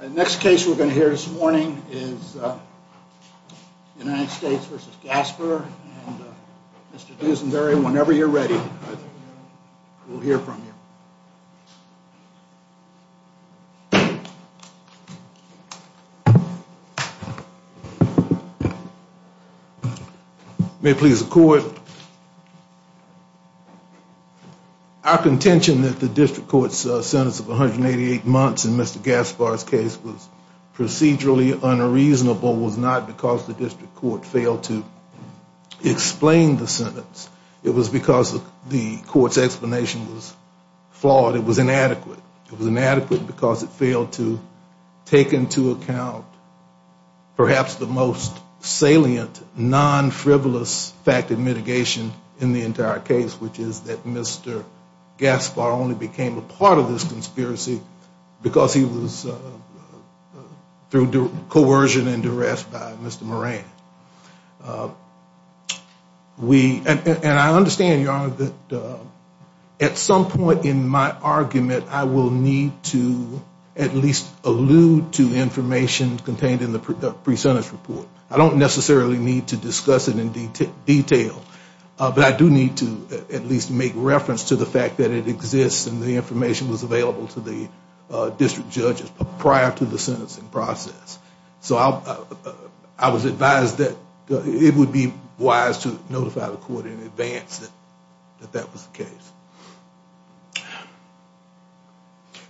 The next case we're going to hear this morning is United States v. Gaspar. Mr. Duesenberry, whenever you're ready, we'll hear from you. May it please the Court. Our contention that the district court's sentence of 188 months in Mr. Gaspar's case was procedurally unreasonable was not because the district court failed to explain the sentence. It was because the court's explanation was flawed. It was inadequate. It was inadequate because it failed to take into account perhaps the most salient, non-frivolous fact of mitigation. In the entire case, which is that Mr. Gaspar only became a part of this conspiracy because he was through coercion and duress by Mr. Moran. And I understand, Your Honor, that at some point in my argument, I will need to at least allude to information contained in the pre-sentence report. I don't necessarily need to discuss it in detail, but I do need to at least make reference to the fact that it exists and the information was available to the district judges prior to the sentencing process. So I was advised that it would be wise to notify the court in advance that that was the case.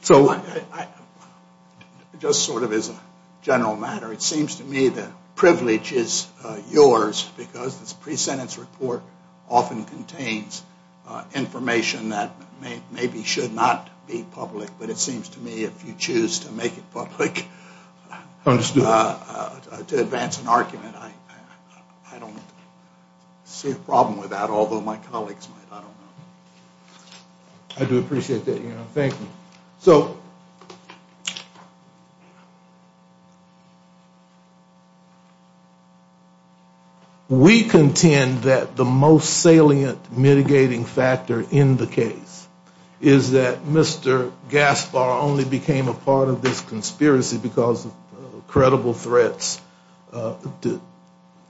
So just sort of as a general matter, it seems to me that privilege is yours because this pre-sentence report often contains information that maybe should not be public. But it seems to me if you choose to make it public to advance an argument, I don't see a problem with that, although my colleagues might. I do appreciate that, Your Honor. Thank you. We contend that the most salient mitigating factor in the case is that Mr. Gaspar only became a part of this conspiracy because of credible threats to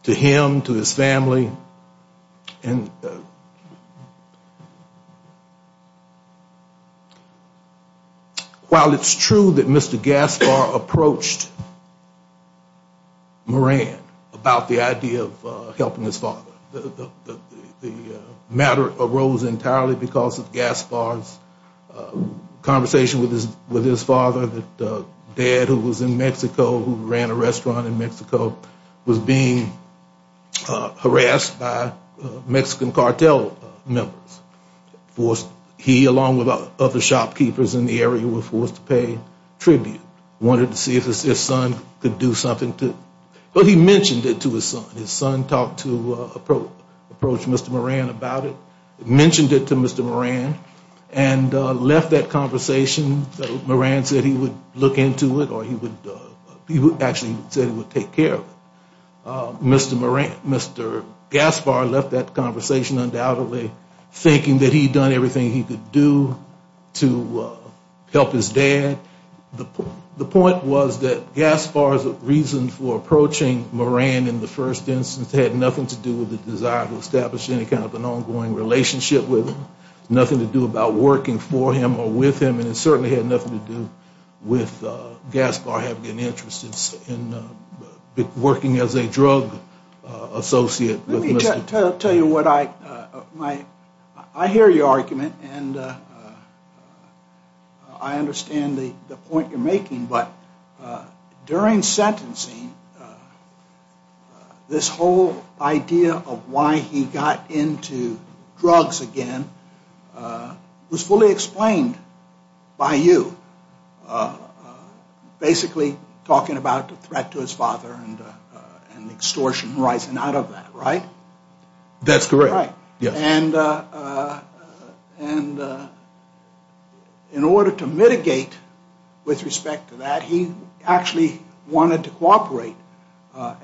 him, to his family. While it's true that Mr. Gaspar approached Moran about the idea of helping his father, the matter arose entirely because of Gaspar's conversation with his father that dad who was in Mexico, who ran a restaurant in Mexico, was being harassed by Mexican cartel members. He along with other shopkeepers in the area were forced to pay tribute, wanted to see if his son could do something. But he mentioned it to his son. His son talked to Mr. Moran about it, mentioned it to Mr. Moran and left that conversation. Moran said he would look into it or he actually said he would take care of it. Mr. Gaspar left that conversation undoubtedly thinking that he had done everything he could do to help his dad. The point was that Gaspar's reason for approaching Moran in the first instance had nothing to do with the desire to establish any kind of an ongoing relationship with him, nothing to do about working for him or with him, and it certainly had nothing to do with Gaspar having an interest in working as a drug dealer. Let me tell you what I, I hear your argument and I understand the point you're making, but during sentencing this whole idea of why he got into drugs again was fully explained by you, basically talking about the threat to his father and the extortion. And in order to mitigate with respect to that he actually wanted to cooperate, but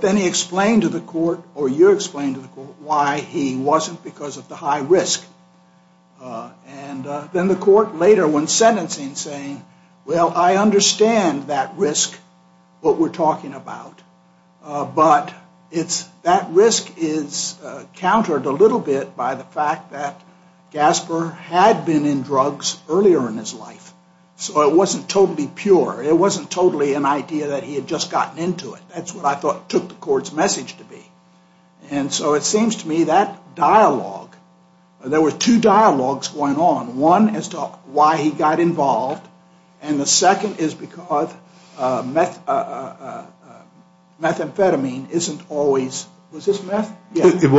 then he explained to the court, or you explained to the court, why he wasn't because of the high risk. And then the court later, when sentencing, saying, well, I understand that risk, what we're talking about, but it's, that risk is countered a little bit by the fact that Gaspar had been in drugs earlier in his life, so it wasn't totally pure, it wasn't totally an idea that he had just gotten into it. That's what I thought took the court's message to be, and so it seems to me that dialogue, there were two dialogues going on, one as to why he got involved, and the second is because methamphetamine isn't always, was this meth? Yeah, it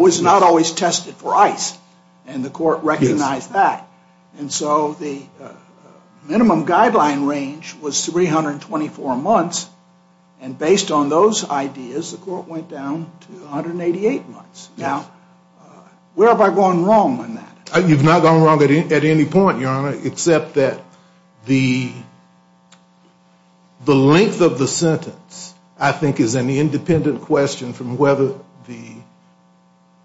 was not always tested for ice, and the court recognized that. And so the minimum guideline range was 324 months, and based on those ideas, the court went down to 188 months. Now, where have I gone wrong on that? The length of the sentence, I think, is an independent question from whether the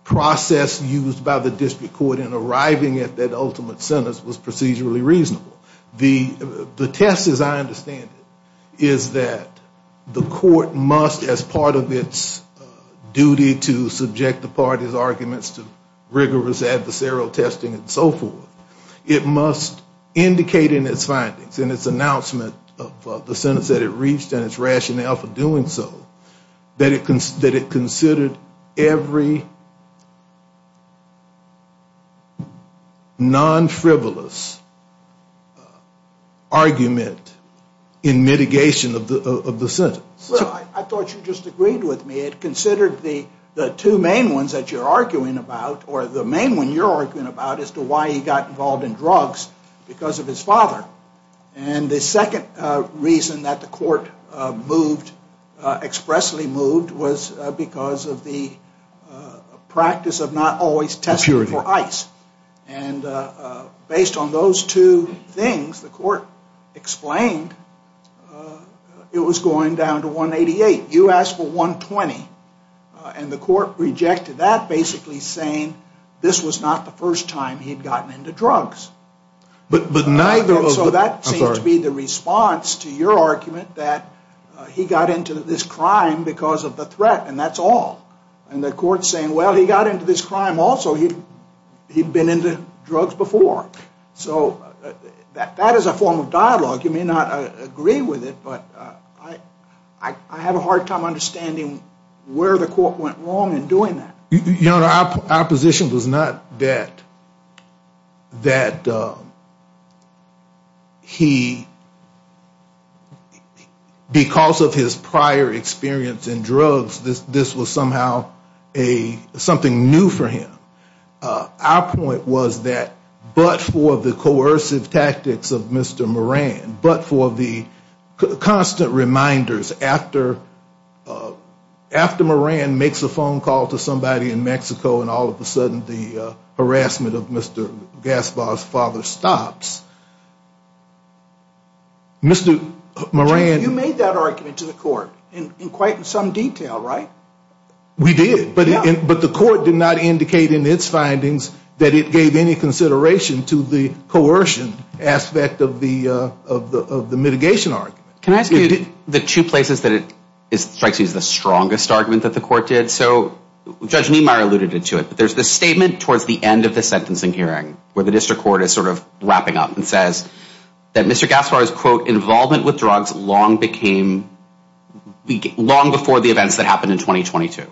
process used by the district court in arriving at that ultimate sentence was procedurally reasonable. The test, as I understand it, is that the court must, as part of its duty to subject the parties' arguments to rigorous adversarial testing and so forth, it must indicate in its sentence that it was not tested. In its findings, in its announcement of the sentence that it reached and its rationale for doing so, that it considered every non-frivolous argument in mitigation of the sentence. Well, I thought you just agreed with me. It considered the two main ones that you're arguing about, or the main one you're arguing about, as to why he got involved in drugs because of his father. And the second reason that the court moved, expressly moved, was because of the practice of not always testing for ice. And based on those two things, the court explained it was going down to 188. You asked for 120, and the court rejected that, basically saying this was not the first time he'd gotten into drugs. And so that seems to be the response to your argument that he got into this crime because of the threat, and that's all. And the court's saying, well, he got into this crime also. He'd been into drugs before. So that is a form of dialogue. You may not agree with it, but I have a hard time understanding where the court went wrong in doing that. You know, our position was not that he, because of his prior experience in drugs, this was somehow something new for him. Our point was that, but for the coercive tactics of Mr. Moran, but for the constant reminders after Moran makes a phone call to somebody in Mexico, and all of a sudden the harassment of Mr. Gaspar's father stops, Mr. Moran. You made that argument to the court in quite some detail, right? We did, but the court did not indicate in its findings that it gave any consideration to the coercion aspect of the mitigation argument. Can I ask you the two places that it strikes you as the strongest argument that the court did? So Judge Niemeyer alluded to it, but there's this statement towards the end of the sentencing hearing where the district court is sort of wrapping up and says that Mr. Gaspar's, quote, he was only doing this for the events that happened in 2022.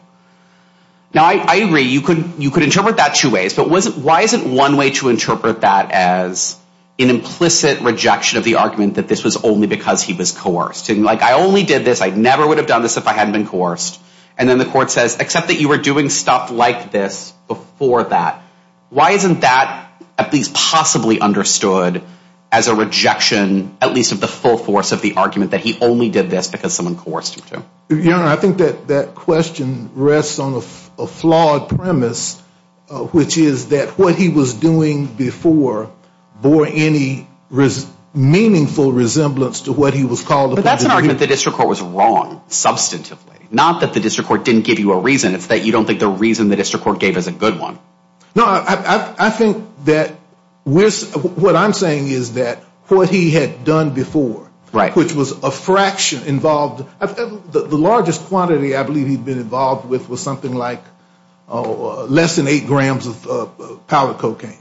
Now, I agree, you could interpret that two ways, but why isn't one way to interpret that as an implicit rejection of the argument that this was only because he was coerced? Like, I only did this, I never would have done this if I hadn't been coerced. And then the court says, except that you were doing stuff like this before that. Why isn't that at least possibly understood as a rejection, at least of the full force of the argument that he only did this because someone coerced him to? I think that question rests on a flawed premise, which is that what he was doing before bore any meaningful resemblance to what he was called upon to do. But that's an argument the district court was wrong, substantively. Not that the district court didn't give you a reason, it's that you don't think the reason the district court gave is a good one. No, I think that what I'm saying is that what he had done before, which was a fraction involved, the largest quantity I believe he'd been involved with was something like less than eight grams of powder cocaine.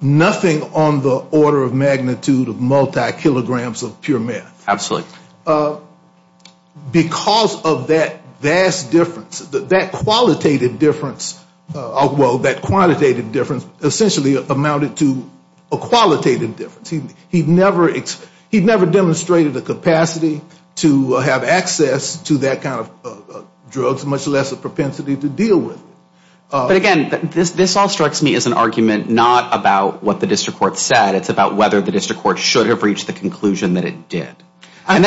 Nothing on the order of magnitude of multi-kilograms of pure meth. Because of that vast difference, that qualitative difference, well, that quantitative difference essentially amounted to a qualitative difference. He never demonstrated a capacity to have access to that kind of drugs, much less a propensity to deal with it. But again, this all strikes me as an argument not about what the district court said, it's about whether the district court should have reached the conclusion that it did. So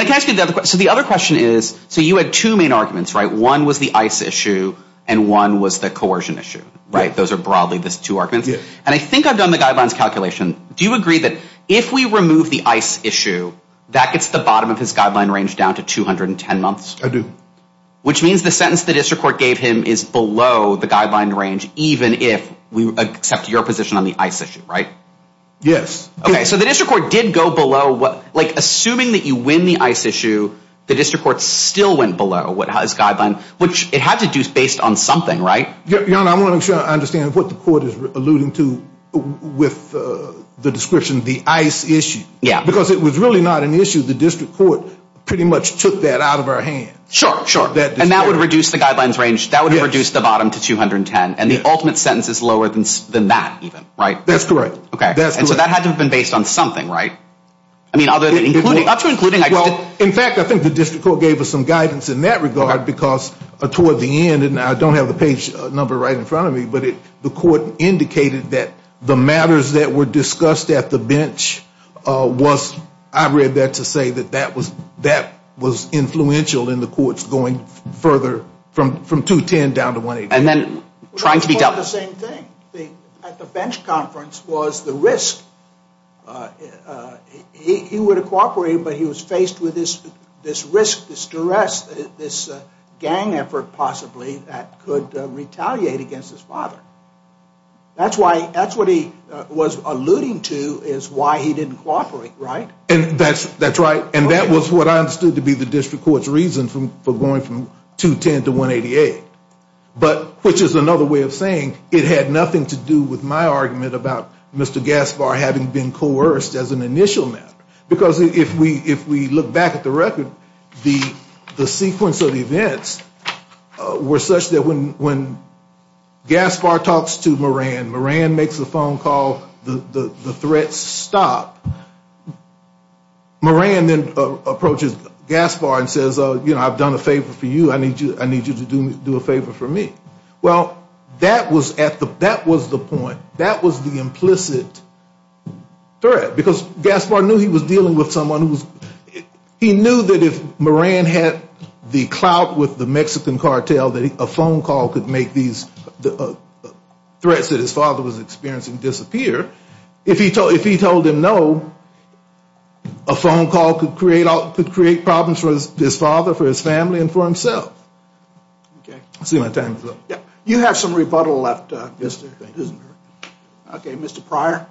the other question is, so you had two main arguments, one was the ICE issue and one was the coercion issue. Those are broadly the two arguments. And I think I've done the guidelines calculation. Do you agree that if we remove the ICE issue, that gets the bottom of his guideline range down to 210 months? I do. Which means the sentence the district court gave him is below the guideline range, even if we accept your position on the ICE issue, right? Yes. Okay, so the district court did go below, like assuming that you win the ICE issue, the district court still went below his guideline, which it had to do based on something, right? I want to make sure I understand what the court is alluding to with the description of the ICE issue. Because it was really not an issue, the district court pretty much took that out of our hands. Sure, sure. And that would reduce the bottom to 210, and the ultimate sentence is lower than that even, right? That's correct. And so that had to have been based on something, right? Well, in fact, I think the district court gave us some guidance in that regard, because toward the end, and I don't have the page number right in front of me, but the court indicated that the matters that were discussed at the bench, I read that to say that that was influential in the courts going further from 210 down to 180. And then trying to be dealt with. Well, the other thing at the bench conference was the risk. He would have cooperated, but he was faced with this risk, this duress, this gang effort possibly that could retaliate against his father. That's what he was alluding to is why he didn't cooperate, right? That's right, and that was what I understood to be the district court's reason for going from 210 to 188. But which is another way of saying it had nothing to do with my argument about Mr. Gaspar having been coerced as an initial matter. Because if we look back at the record, the sequence of events were such that when Gaspar talks to Moran, Moran makes a phone call, the threats stop. Moran then approaches Gaspar and says, you know, I've done a favor for you, I need you to do a favor for me. Well, that was the point. That was the implicit threat. Because Gaspar knew he was dealing with someone who was, he knew that if Moran had the clout with the Mexican cartel that a phone call could make these threats that his father was experiencing disappear. If he told him no, a phone call could create problems for his father, for his family and for himself. You have some rebuttal left. Okay, Mr. Pryor.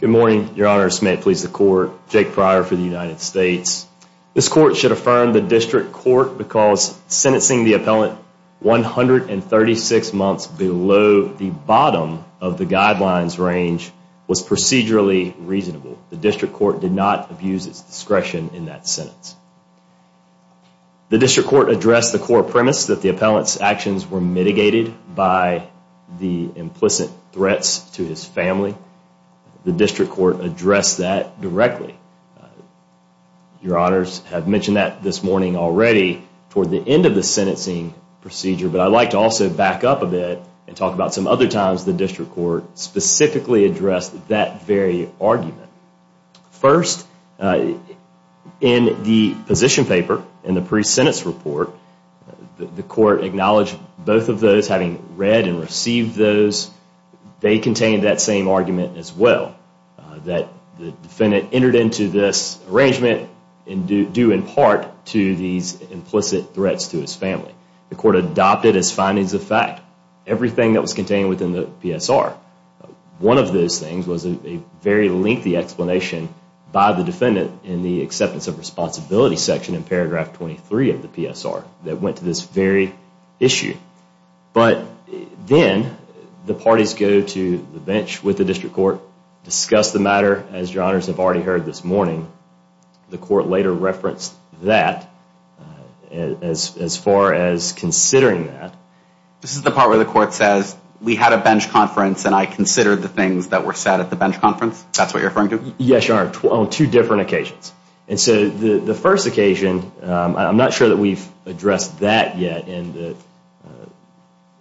Good morning, Your Honor. This may please the court. Jake Pryor for the United States. This court should affirm the district court because sentencing the appellant 136 months below the bottom of the guidelines range was procedurally reasonable. The district court did not abuse its discretion in that sentence. The district court addressed the core premise that the appellant's actions were mitigated by the implicit threats to his family. The district court addressed that directly. Your Honors have mentioned that this morning already toward the end of the sentencing procedure. But I'd like to also back up a bit and talk about some other times the district court specifically addressed that very argument. First, in the position paper in the pre-sentence report, the court acknowledged both of those having read and received those. They contained that same argument as well, that the defendant entered into this arrangement due in part to these implicit threats to his family. The court adopted as findings of fact everything that was contained within the PSR. One of those things was a very lengthy explanation by the defendant in the acceptance of responsibility section in paragraph 23 of the PSR that went to this very issue. But then the parties go to the bench with the district court, discuss the matter as Your Honors have already heard this morning. The court later referenced that as far as considering that. This is the part where the court says, we had a bench conference and I considered the things that were said at the bench conference? That's what you're referring to? Yes, Your Honor, on two different occasions. I'm not sure that we've addressed that yet in the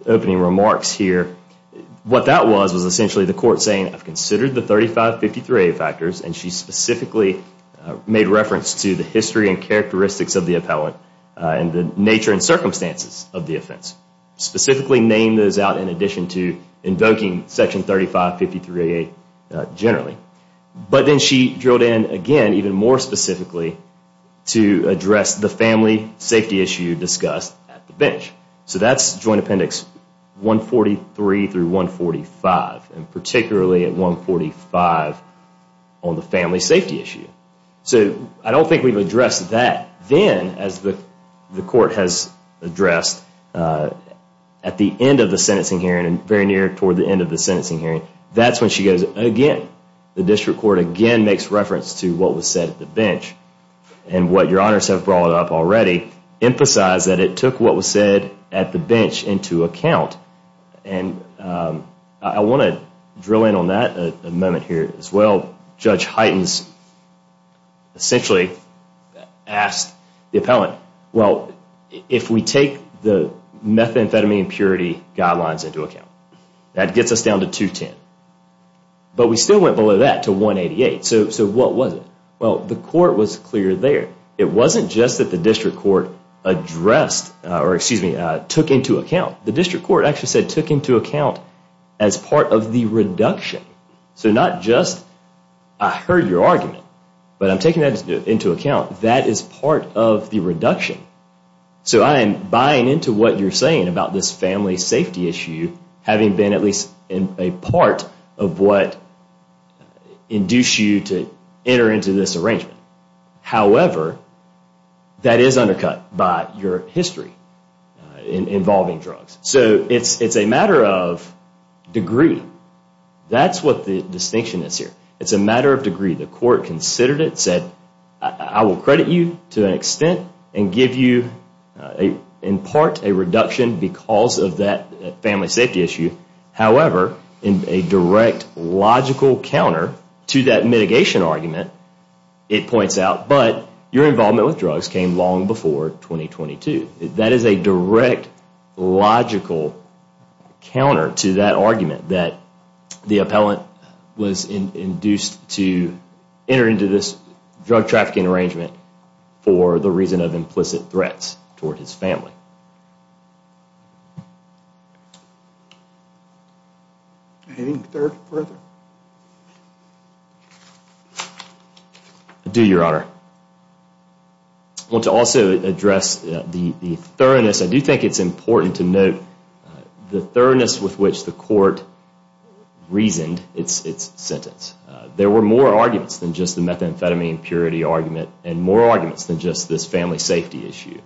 opening remarks here. What that was, was essentially the court saying, I've considered the 3553A factors, and she specifically made reference to the history and characteristics of the appellant and the nature and circumstances of the offense. Specifically named those out in addition to invoking section 3553A generally. But then she drilled in again even more specifically to address the family safety issue discussed at the bench. So that's Joint Appendix 143 through 145, and particularly at 145 on the family safety issue. So I don't think we've addressed that. Then as the court has addressed at the end of the sentencing hearing and very near toward the end of the sentencing hearing, that's when she goes again, the district court again makes reference to what was said at the bench. And what Your Honors have brought up already, emphasized that it took what was said at the bench into account. And I want to drill in on that amendment here as well. Judge Heightens essentially asked the appellant, well, if we take the methamphetamine impurity guidelines into account, that gets us down to 210. But we still went below that to 188. So what was it? Well, the court was clear there. It wasn't just that the district court addressed, or excuse me, took into account. The district court actually said took into account as part of the reduction. So not just I heard your argument, but I'm taking that into account. That is part of the reduction. So I am buying into what you're saying about this family safety issue, having been at least a part of what induced you to enter into this arrangement. However, that is undercut by your history involving drugs. So it's a matter of degree. That's what the distinction is here. It's a matter of degree. The court considered it, said I will credit you to an extent, and give you in part a reduction because of that family safety issue. However, in a direct logical counter to that mitigation argument, it points out, but your involvement with drugs came long before 2022. That is a direct logical counter to that argument that the appellant was induced to enter into this drug trafficking arrangement for the reason of implicit threats toward his family. Anything further? I do, Your Honor. I want to also address the thoroughness. I do think it's important to note the thoroughness with which the court reasoned its sentence. There were more arguments than just the methamphetamine purity argument, and more arguments than just this family safety issue.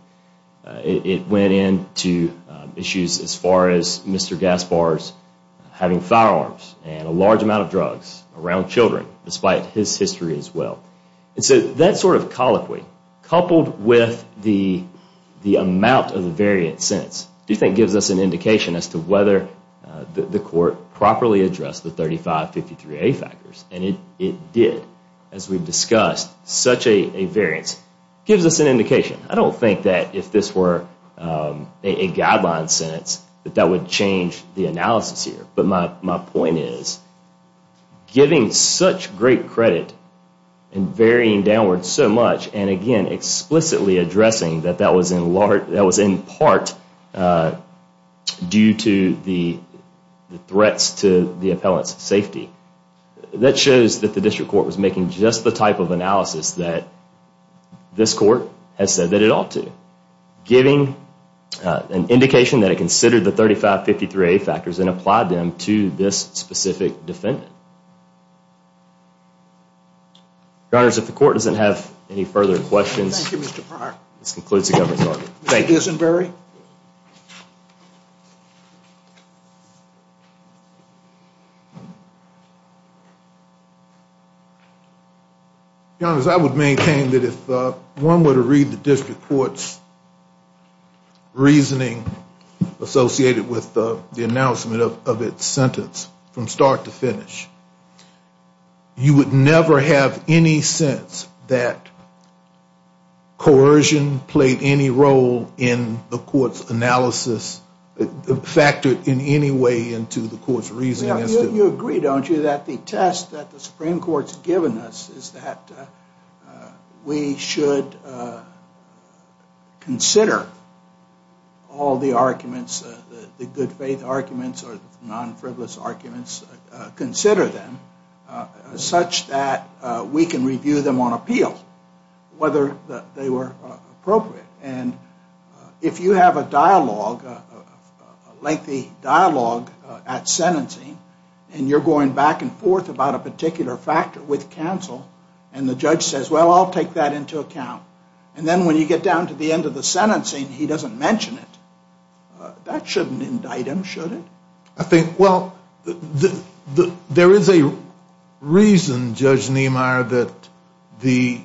It went into issues as far as Mr. Gaspar's having firearms and a large amount of drugs around children, despite his history as well. That sort of colloquy, coupled with the amount of the variant sentence, gives us an indication as to whether the court properly addressed the 3553A factors. And it did, as we've discussed. Such a variance gives us an indication. I don't think that if this were a guideline sentence, that that would change the analysis here. But my point is, giving such great credit and varying downward so much, and again, explicitly addressing that that was in part due to the threats to the appellant's safety, that shows that the district court was making just the type of analysis that this court has said that it ought to. Giving an indication that it considered the 3553A factors and applied them to this specific defendant. Your honors, if the court doesn't have any further questions, this concludes the government's argument. Your honors, I would maintain that if one were to read the district court's reasoning associated with the announcement of its sentence, from start to finish, you would never have any sense that coercion played any role in the court's analysis, factored in any way into the court's reasoning. You agree, don't you, that the test that the Supreme Court's given us is that we should consider all the arguments, the good faith arguments or the non-frivolous arguments, consider them such that we can review them on appeal, whether they were appropriate. And if you have a dialogue, a lengthy dialogue at sentencing, and you're going back and forth about a particular factor with counsel, and the judge says, well, I'll take that into account, and then when you get down to the end of the sentencing, he doesn't mention it, that shouldn't indict him, should it? There is a reason, Judge Niemeyer, that the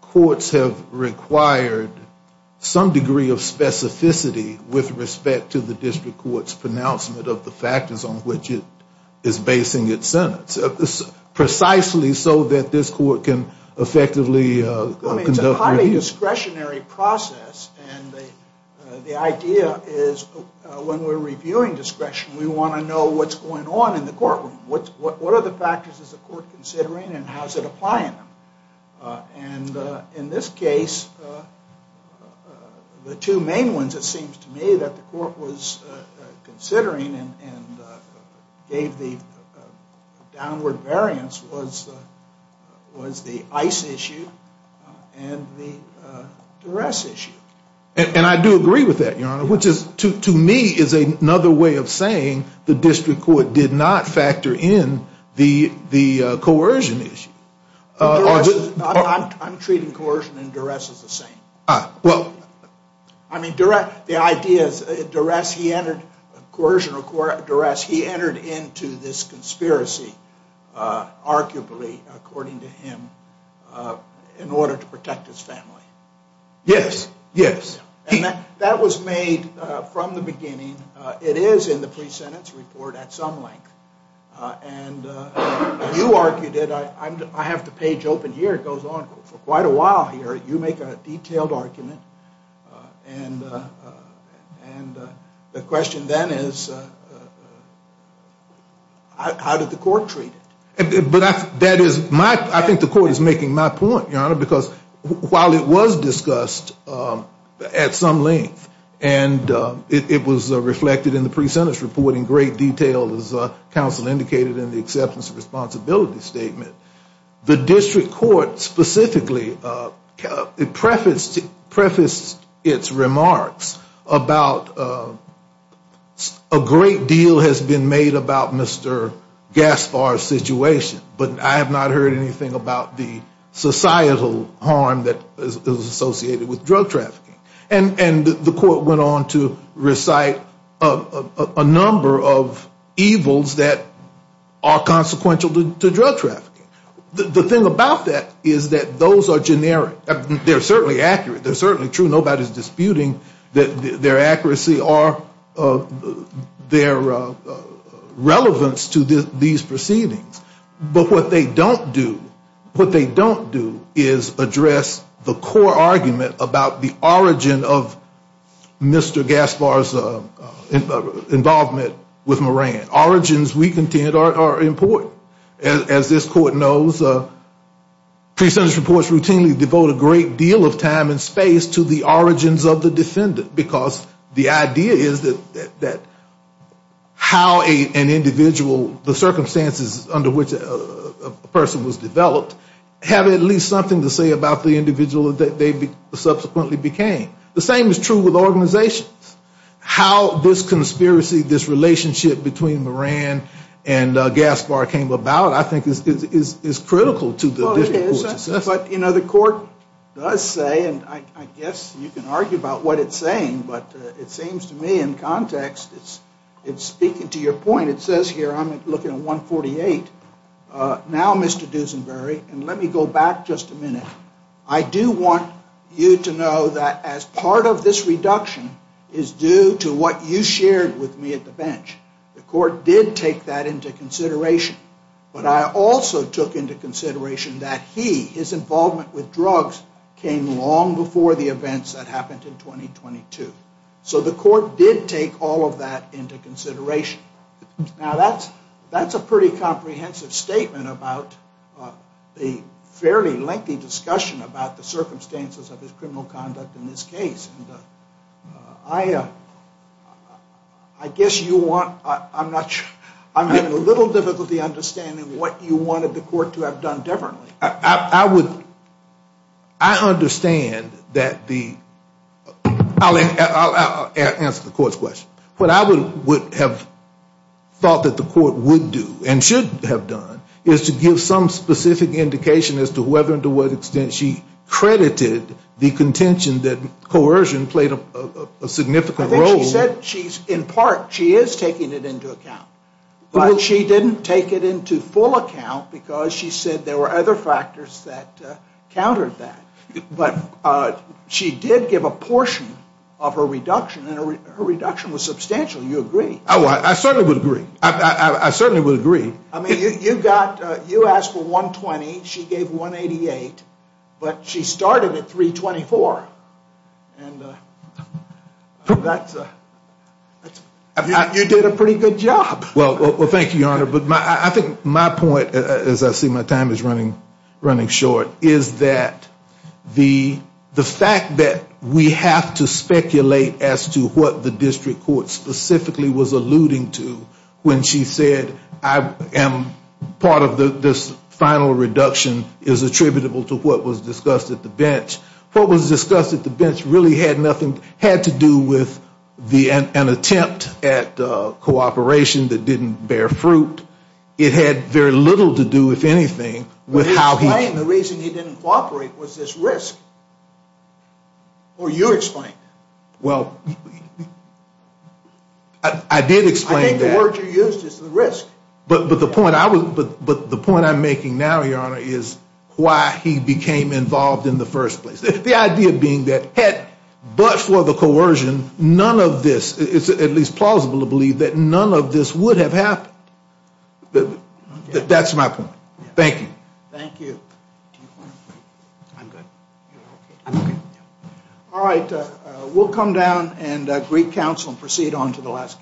courts have required some degree of specificity with respect to the district court's pronouncement of the factors on which it is basing its sentence, precisely so that this court can effectively conduct review. It's a highly discretionary process, and the idea is when we're reviewing discretion, we want to know what's going on in the courtroom. What are the factors the court is considering, and how is it applying them? And in this case, the two main ones, it seems to me, that the court was considering, and gave the downward variance was the ICE issue and the duress issue. And I do agree with that, Your Honor, which is, to me, is another way of saying the district court did not factor in the coercion issue. I'm treating coercion and duress as the same. Well, I mean, the idea is duress, he entered, coercion or duress, he entered into this conspiracy, arguably, according to him, in order to protect his family. Yes, yes. That was made from the beginning. It is in the pre-sentence report at some length. And you argued it. I have the page open here. It goes on for quite a while here. You make a detailed argument. And the question then is, how did the court treat it? I think the court is making my point, Your Honor, because while it was discussed at some length, and it was reflected in the pre-sentence report in great detail as counsel indicated in the acceptance of responsibility statement, the district court specifically prefaced its remarks about a great deal has been made about Mr. Gaspar's situation. But I have not heard anything about the societal harm that is associated with drug trafficking. And the court went on to recite a number of evils that are consequential to drug trafficking. The thing about that is that those are generic. They are certainly accurate. They are certainly true. Nobody is disputing their accuracy or their relevance to these proceedings. But what they don't do, what they don't do is address the core argument about the origin of drug trafficking. The origin of Mr. Gaspar's involvement with Moran. Origins, we contend, are important. As this court knows, pre-sentence reports routinely devote a great deal of time and space to the origins of the defendant. Because the idea is that how an individual, the circumstances under which a person was developed, have at least something to say about the individual that they subsequently became. The same is true with organizations. How this conspiracy, this relationship between Moran and Gaspar came about I think is critical to the district court's assessment. But the court does say, and I guess you can argue about what it is saying, but it seems to me in context, it's speaking to your point, it says here, I'm looking at 148. Now, Mr. Dusenbury, and let me go back just a minute. I do want you to know that as part of this reduction is due to what you shared with me at the bench. The court did take that into consideration. But I also took into consideration that he, his involvement with drugs, came long before the events that happened in 2022. So the court did take all of that into consideration. Now, that's a pretty comprehensive statement about the fairly lengthy discussion about the circumstances of his criminal conduct in this case. I guess you want, I'm not sure, I'm having a little difficulty understanding what you wanted the court to have done differently. I would, I understand that the, I'll answer the court's question. What I would have thought that the court would do and should have done is to give some specific indication as to whether and to what extent she credited the contention that coercion played a significant role. I think she said she's, in part, she is taking it into account. But she didn't take it into full account because she said there were other factors that countered that. But she did give a portion of her reduction, and her reduction was substantial. You agree? Oh, I certainly would agree. I certainly would agree. I mean, you got, you asked for $120, she gave $188, but she started at $324. And that's, you did a pretty good job. Well, thank you, Your Honor. But I think my point, as I see my time is running short, is that the fact that we have to speculate as to what the district court specifically was alluding to when she said I am part of this final reduction is attributable to what was discussed at the bench. What was discussed at the bench really had nothing, had to do with the, an attempt at cooperation, the district court's attempt at cooperation. It didn't bear fruit. It had very little to do, if anything, with how he. Explain the reason he didn't cooperate was this risk. Or you explain it. Well, I did explain that. I think the word you used is the risk. But the point I'm making now, Your Honor, is why he became involved in the first place. The idea being that had, but for the coercion, none of this, it's at least plausible to believe that none of this would have happened. That's my point. Thank you. Thank you. All right. We'll come down and greet counsel and proceed on to the last case.